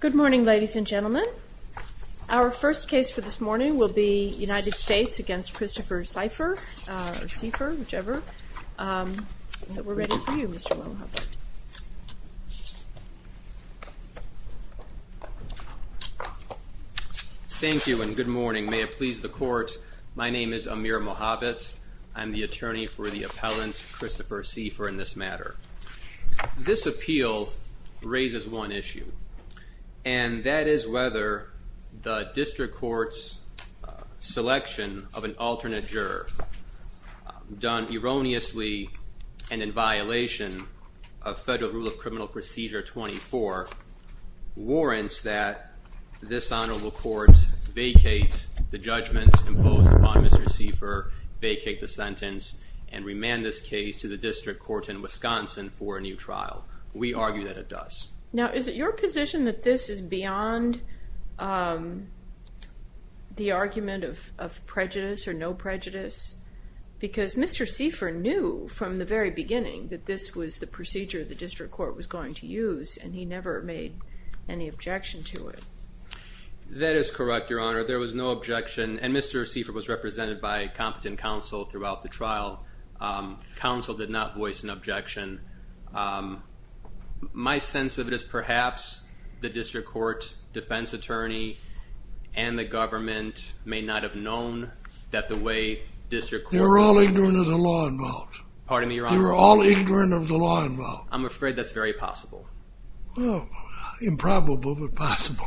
Good morning, ladies and gentlemen. Our first case for this morning will be United States v. Christopher Seifer, or Seifer, whichever. So we're ready for you, Mr. Mohabit. Thank you and good morning. May it please the court, my name is Amir Mohabit. I'm the attorney for the appellant, Christopher Seifer, in this matter. This appeal raises one issue, and that is whether the district court's selection of an alternate juror, done erroneously and in violation of Federal Rule of Criminal Procedure 24, warrants that this honorable court vacate the judgments imposed upon Mr. Seifer, vacate the sentence, and remand this case to the district court in Wisconsin for a new trial. We argue that it does. Now, is it your position that this is beyond the argument of prejudice or no prejudice? Because Mr. Seifer knew from the very beginning that this was the procedure the district court was going to use, and he never made any objection to it. That is correct, Your Honor. There was no objection, and Mr. Seifer was represented by competent counsel throughout the trial. Counsel did not voice an objection. My sense of it is perhaps the district court defense attorney and the government may not have known that the way district court... They were all ignorant of the law involved. Pardon me, Your Honor? They were all ignorant of the law involved. I'm afraid that's very possible. Well, improbable, but possible.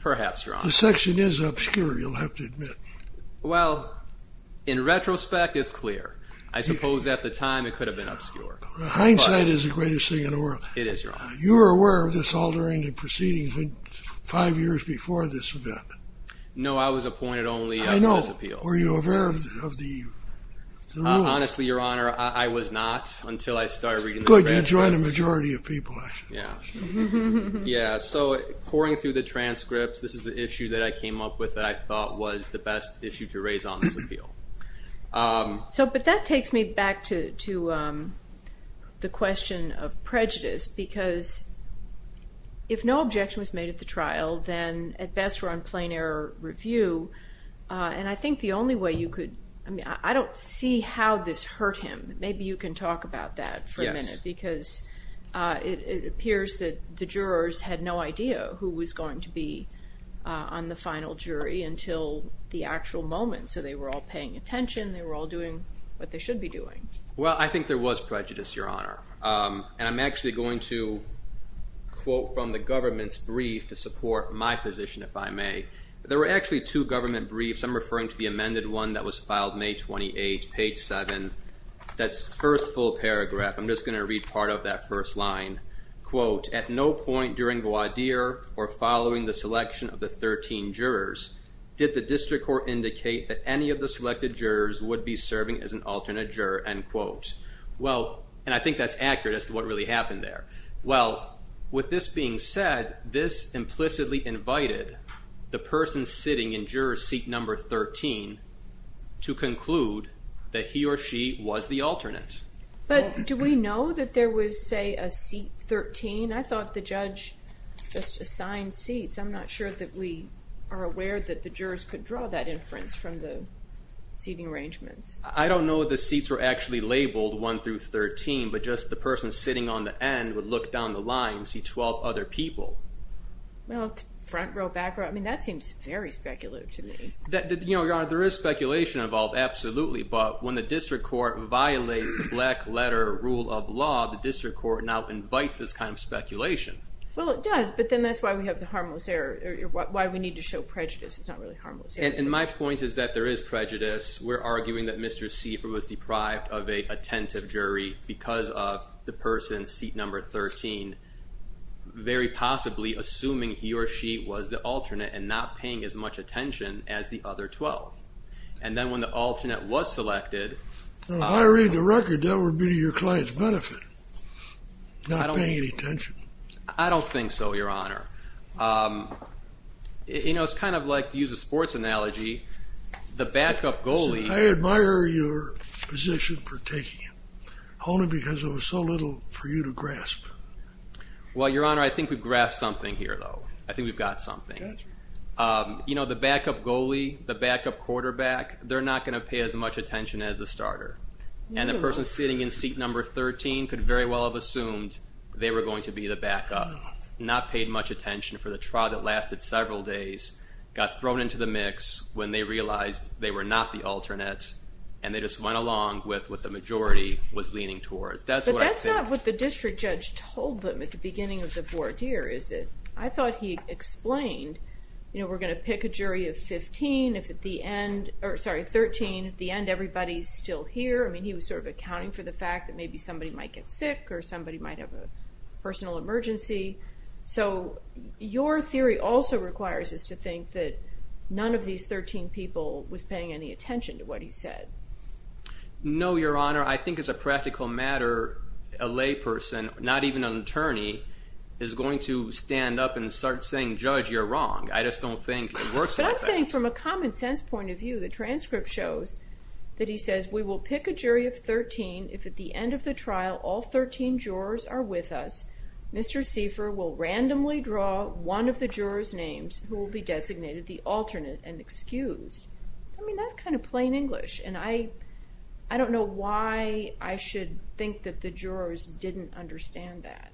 Perhaps, Your Honor. The section is obscure, you'll have to admit. Well, in retrospect, it's clear. I suppose at the time it could have been obscure. Hindsight is the greatest thing in the world. It is, Your Honor. You were aware of this altering the proceedings five years before this event. No, I was appointed only on this appeal. I know. Were you aware of the rules? Honestly, Your Honor, I was not until I started reading the transcripts. I joined a majority of people, actually. Yeah, so pouring through the transcripts, this is the issue that I came up with that I thought was the best issue to raise on this appeal. But that takes me back to the question of prejudice, because if no objection was made at the trial, then at best we're on plain error review. And I think the only way you could... I don't see how this hurt him. Maybe you can talk about that for a minute, because it appears that the jurors had no idea who was going to be on the final jury until the actual moment. So they were all paying attention, they were all doing what they should be doing. Well, I think there was prejudice, Your Honor. And I'm actually going to quote from the government's brief to support my position, if I may. There were actually two government briefs. I'm referring to the amended one that was filed May 28, page 7. That's the first full paragraph. I'm just going to read part of that first line. Well, and I think that's accurate as to what really happened there. Well, with this being said, this implicitly invited the person sitting in juror seat number 13 to conclude that he or she was the alternate. But do we know that there was, say, a seat 13? I thought the judge just assigned seats. I'm not sure that we are aware that the jurors could draw that inference from the seating arrangements. I don't know if the seats were actually labeled 1 through 13, but just the person sitting on the end would look down the line and see 12 other people. Well, front row, back row, I mean, that seems very speculative to me. You know, Your Honor, there is speculation involved, absolutely. But when the district court violates the black letter rule of law, the district court now invites this kind of speculation. Well, it does, but then that's why we have the harmless error, why we need to show prejudice. It's not really harmless error. And my point is that there is prejudice. We're arguing that Mr. Seifer was deprived of a attentive jury because of the person seat number 13, very possibly assuming he or she was the alternate and not paying as much attention as the other 12. And then when the alternate was selected... If I read the record, that would be to your client's benefit, not paying any attention. I don't think so, Your Honor. You know, it's kind of like, to use a sports analogy, the backup goalie... I admire your position for taking it, only because there was so little for you to grasp. Well, Your Honor, I think we've grasped something here, though. I think we've got something. You know, the backup goalie, the backup quarterback, they're not going to pay as much attention as the starter. And the person sitting in seat number 13 could very well have assumed they were going to be the backup, not paid much attention for the trial that lasted several days, got thrown into the mix when they realized they were not the alternate, and they just went along with what the majority was leaning towards. That's what I think. But that's not what the district judge told them at the beginning of the fourth year, is it? I thought he explained, you know, we're going to pick a jury of 15. If at the end... Or, sorry, 13. At the end, everybody's still here. I mean, he was sort of accounting for the fact that maybe somebody might get sick or somebody might have a personal emergency. So your theory also requires us to think that none of these 13 people was paying any attention to what he said. No, Your Honor. I think as a practical matter, a layperson, not even an attorney, is going to stand up and start saying, Judge, you're wrong. I just don't think it works like that. But I'm saying from a common sense point of view, the transcript shows that he says, we will pick a jury of 13 if at the end of the trial all 13 jurors are with us. Mr. Seifer will randomly draw one of the jurors' names who will be designated the alternate and excused. I mean, that's kind of plain English, and I don't know why I should think that the jurors didn't understand that.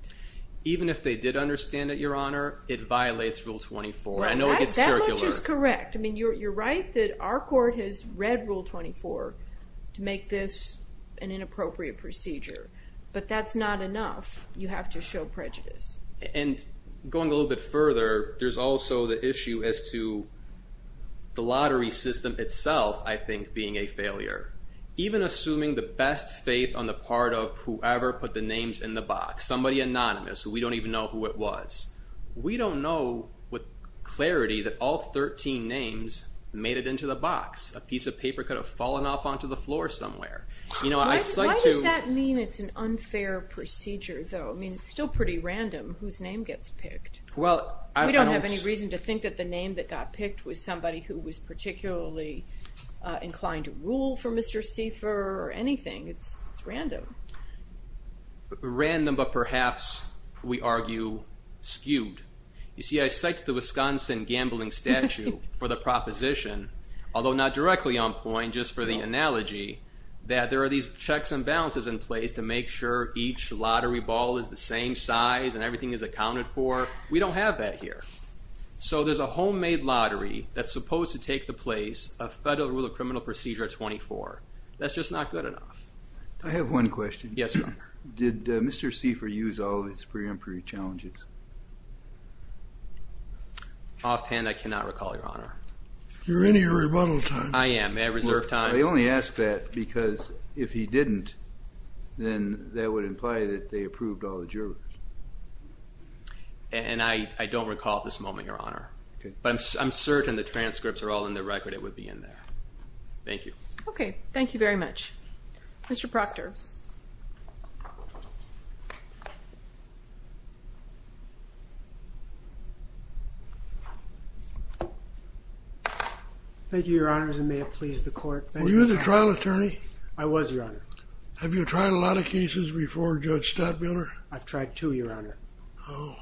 Even if they did understand it, Your Honor, it violates Rule 24. I know it gets circular. That much is correct. I mean, you're right that our court has read Rule 24 to make this an inappropriate procedure. But that's not enough. You have to show prejudice. And going a little bit further, there's also the issue as to the lottery system itself, I think, being a failure. Even assuming the best faith on the part of whoever put the names in the box, somebody anonymous, who we don't even know who it was, we don't know with clarity that all 13 names made it into the box. A piece of paper could have fallen off onto the floor somewhere. Why does that mean it's an unfair procedure, though? I mean, it's still pretty random whose name gets picked. We don't have any reason to think that the name that got picked was somebody who was particularly inclined to rule for Mr. Seifer or anything. It's random. Random, but perhaps, we argue, skewed. You see, I cite the Wisconsin gambling statute for the proposition, although not directly on point, just for the analogy, that there are these checks and balances in place to make sure each lottery ball is the same size and everything is accounted for. We don't have that here. So there's a homemade lottery that's supposed to take the place of Federal Rule of Criminal Procedure 24. That's just not good enough. I have one question. Yes, Your Honor. Did Mr. Seifer use all of his preemptory challenges? Offhand, I cannot recall, Your Honor. You're in your rebuttal time. I am. May I reserve time? I only ask that because if he didn't, then that would imply that they approved all the jurors. And I don't recall at this moment, Your Honor. Okay. But I'm certain the transcripts are all in the record. It would be in there. Thank you. Okay. Thank you very much. Mr. Proctor. Thank you, Your Honors, and may it please the Court. Were you the trial attorney? I was, Your Honor. Have you tried a lot of cases before Judge Stadtmiller? I've tried two, Your Honor. Oh.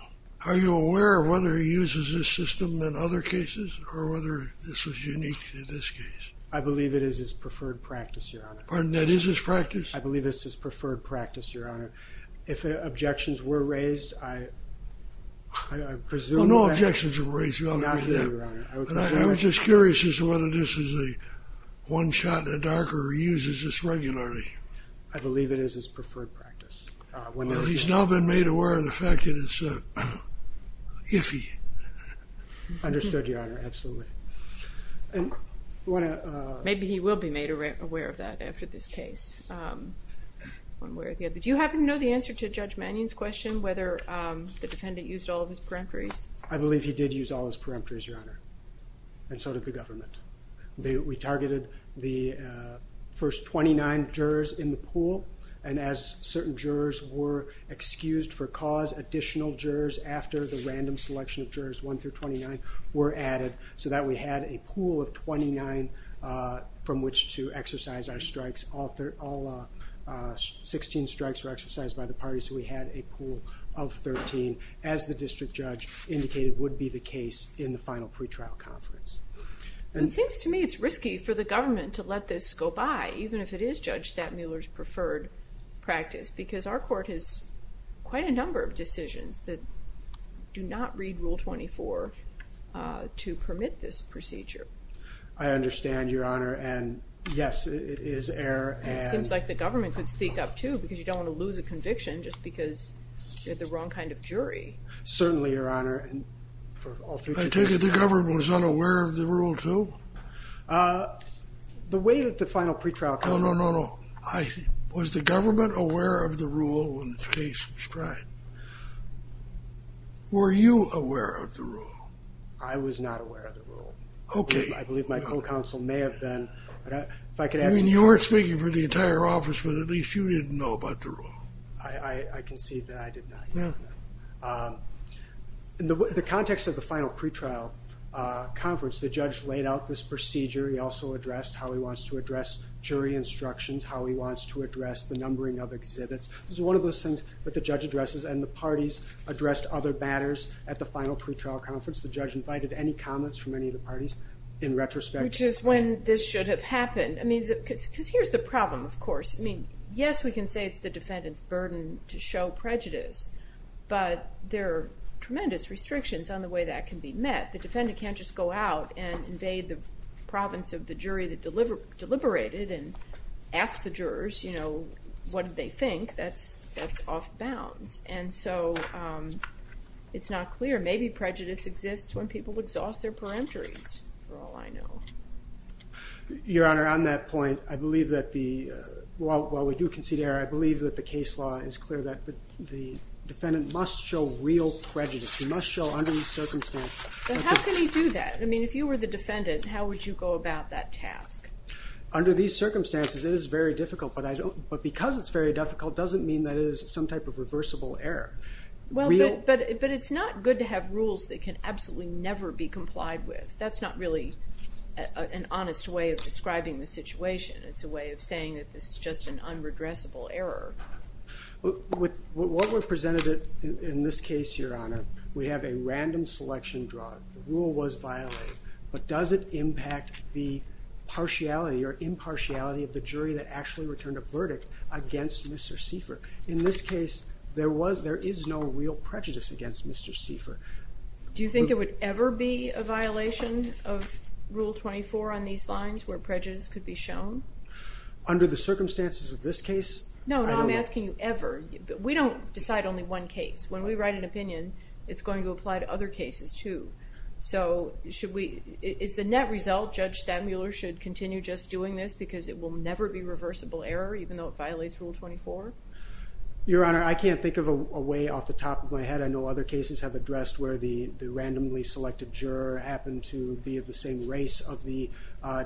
Are you aware of whether he uses this system in other cases or whether this is unique to this case? I believe it is his preferred practice, Your Honor. Pardon? That is his practice? I believe it's his preferred practice, Your Honor. If objections were raised, I presume that— Well, no objections were raised. Not here, Your Honor. I was just curious as to whether this is a one-shot in the dark or he uses this regularly. I believe it is his preferred practice. Well, he's now been made aware of the fact that it's iffy. Understood, Your Honor. Absolutely. Maybe he will be made aware of that after this case. One way or the other. Do you happen to know the answer to Judge Mannion's question whether the defendant used all of his peremptories? I believe he did use all his peremptories, Your Honor, and so did the government. We targeted the first 29 jurors in the pool, and as certain jurors were excused for cause, additional jurors after the random selection of jurors 1 through 29 were added, so that we had a pool of 29 from which to exercise our strikes. All 16 strikes were exercised by the parties, so we had a pool of 13, as the district judge indicated would be the case in the final pretrial conference. It seems to me it's risky for the government to let this go by, even if it is Judge Stattmuller's preferred practice, because our court has quite a number of decisions that do not read Rule 24 to permit this procedure. I understand, Your Honor, and, yes, it is error. It seems like the government could speak up, too, because you don't want to lose a conviction just because you're the wrong kind of jury. Certainly, Your Honor. I take it the government was unaware of the rule, too? The way that the final pretrial conference... No, no, no, no. Was the government aware of the rule when the case was tried? Were you aware of the rule? I was not aware of the rule. Okay. I believe my co-counsel may have been, but if I could ask... You weren't speaking for the entire office, but at least you didn't know about the rule. I concede that I did not. In the context of the final pretrial conference, the judge laid out this procedure. He also addressed how he wants to address jury instructions, how he wants to address the numbering of exhibits. This is one of those things that the judge addresses, and the parties addressed other matters at the final pretrial conference. The judge invited any comments from any of the parties in retrospect. Which is when this should have happened, because here's the problem, of course. Yes, we can say it's the defendant's burden to show prejudice, but there are tremendous restrictions on the way that can be met. The defendant can't just go out and invade the province of the jury that deliberated and ask the jurors, you know, what did they think. That's off bounds. And so it's not clear. Maybe prejudice exists when people exhaust their peremptories, for all I know. Your Honor, on that point, I believe that the... defendant must show real prejudice. He must show under these circumstances... But how can he do that? I mean, if you were the defendant, how would you go about that task? Under these circumstances, it is very difficult, but because it's very difficult doesn't mean that it is some type of reversible error. But it's not good to have rules that can absolutely never be complied with. That's not really an honest way of describing the situation. It's a way of saying that this is just an unregressible error. With what was presented in this case, Your Honor, we have a random selection drug. The rule was violated. But does it impact the partiality or impartiality of the jury that actually returned a verdict against Mr. Seifer? In this case, there is no real prejudice against Mr. Seifer. Do you think it would ever be a violation of Rule 24 on these lines where prejudice could be shown? Under the circumstances of this case? No, I'm not asking you ever. We don't decide only one case. When we write an opinion, it's going to apply to other cases too. So should we... Is the net result Judge Stadmuller should continue just doing this because it will never be reversible error even though it violates Rule 24? Your Honor, I can't think of a way off the top of my head. I know other cases have addressed where the randomly selected juror happened to be of the same race of the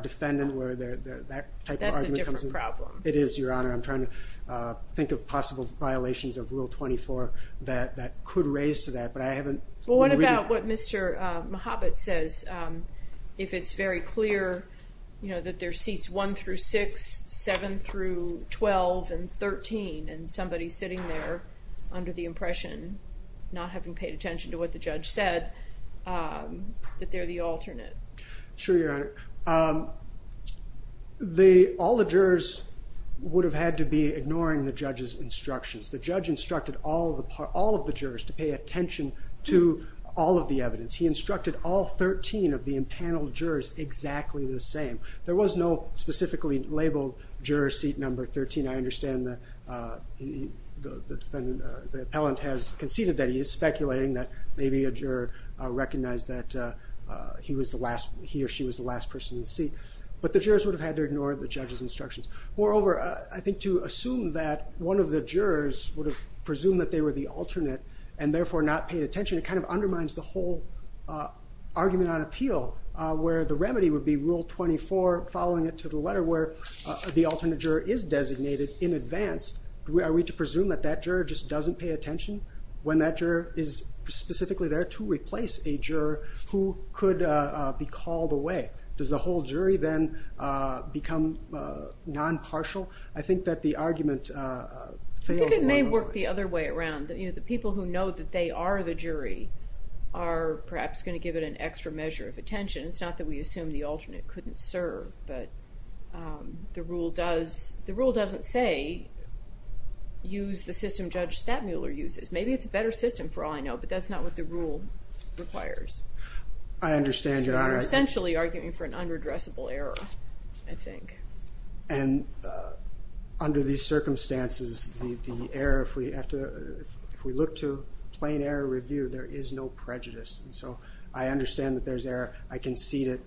defendant where that type of argument comes in. That's a different problem. It is, Your Honor. I'm trying to think of possible violations of Rule 24 that could raise to that, but I haven't... What about what Mr. Mohabit says if it's very clear that there are seats 1 through 6, 7 through 12, and 13, and somebody's sitting there under the impression, not having paid attention to what the judge said, that they're the alternate? Sure, Your Honor. All the jurors would have had to be ignoring the judge's instructions. The judge instructed all of the jurors to pay attention to all of the evidence. He instructed all 13 of the impaneled jurors exactly the same. There was no specifically labeled juror seat number 13. I understand the defendant, the appellant, has conceded that he is speculating that maybe a juror recognized that he or she was the last person in the seat. But the jurors would have had to ignore the judge's instructions. Moreover, I think to assume that one of the jurors would have presumed that they were the alternate and therefore not paid attention, it kind of undermines the whole argument on appeal where the remedy would be Rule 24, following it to the letter, where the alternate juror is designated in advance. Are we to presume that that juror just doesn't pay attention when that juror is specifically there to replace a juror who could be called away? Does the whole jury then become non-partial? I think that the argument fails along those lines. I think it may work the other way around. The people who know that they are the jury are perhaps going to give it an extra measure of attention. It's not that we assume the alternate couldn't serve, but the rule doesn't say, use the system Judge Stadmuller uses. Maybe it's a better system for all I know, but that's not what the rule requires. I understand your argument. You're essentially arguing for an unredressable error, I think. And under these circumstances, the error, if we look to plain error review, there is no prejudice. So I understand that there's error. I can see that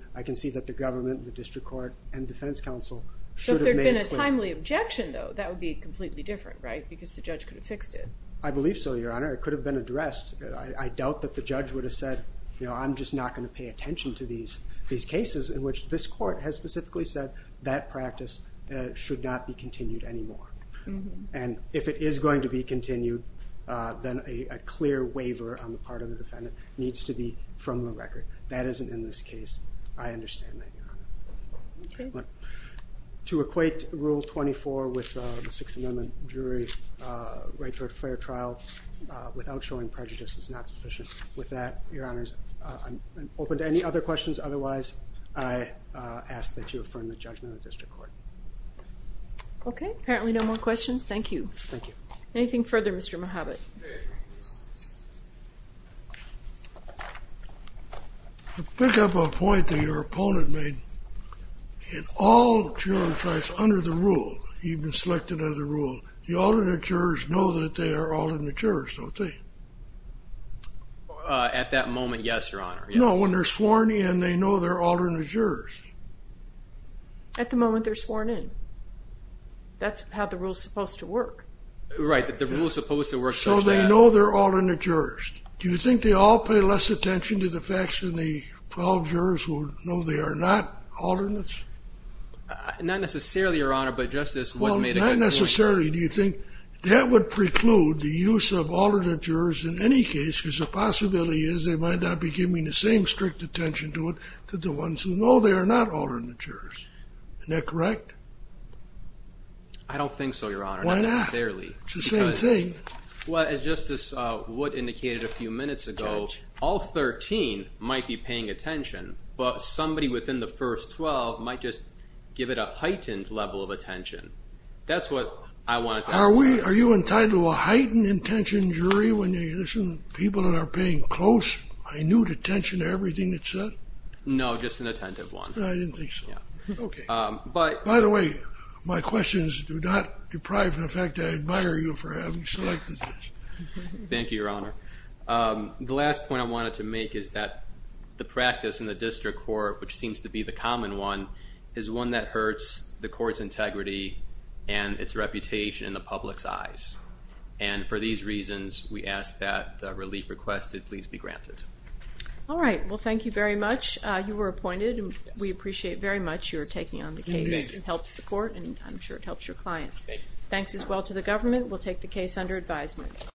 the government, the district court, and defense counsel should have made it clear. With a timely objection, though, that would be completely different, right? Because the judge could have fixed it. I believe so, Your Honor. It could have been addressed. I doubt that the judge would have said, I'm just not going to pay attention to these cases in which this court has specifically said that practice should not be continued anymore. And if it is going to be continued, then a clear waiver on the part of the defendant needs to be from the record. That isn't in this case. I understand that, Your Honor. To equate Rule 24 with the Sixth Amendment jury right to a fair trial without showing prejudice is not sufficient. With that, Your Honors, I'm open to any other questions. Otherwise, I ask that you affirm the judgment of the district court. Okay. Apparently no more questions. Thank you. Thank you. Anything further, Mr. Mohabbat? Okay. To pick up a point that your opponent made, in all juror trials under the rule, even selected under the rule, the alternate jurors know that they are alternate jurors, don't they? At that moment, yes, Your Honor. No, when they're sworn in, they know they're alternate jurors. At the moment, they're sworn in. That's how the rule is supposed to work. Right. The rule is supposed to work. So they know they're alternate jurors. Do you think they all pay less attention to the facts than the 12 jurors who know they are not alternates? Not necessarily, Your Honor, but Justice Wood made a good point. Well, not necessarily. Do you think that would preclude the use of alternate jurors in any case because the possibility is they might not be giving the same strict attention to it to the ones who know they are not alternate jurors? Isn't that correct? I don't think so, Your Honor. Why not? It's the same thing. Well, as Justice Wood indicated a few minutes ago, all 13 might be paying attention, but somebody within the first 12 might just give it a heightened level of attention. That's what I want to talk about. Are you entitled to a heightened attention, jury, when you listen to people that are paying close, renewed attention to everything that's said? No, just an attentive one. I didn't think so. Okay. By the way, my questions do not deprive me of the fact that I admire you for having selected this. Thank you, Your Honor. The last point I wanted to make is that the practice in the district court, which seems to be the common one, is one that hurts the court's integrity and its reputation in the public's eyes. And for these reasons, we ask that the relief requested please be granted. All right. Well, thank you very much. You were appointed, and we appreciate very much your taking on the case. It helps the court, and I'm sure it helps your client. Thank you. Thanks as well to the government. We'll take the case under advisement.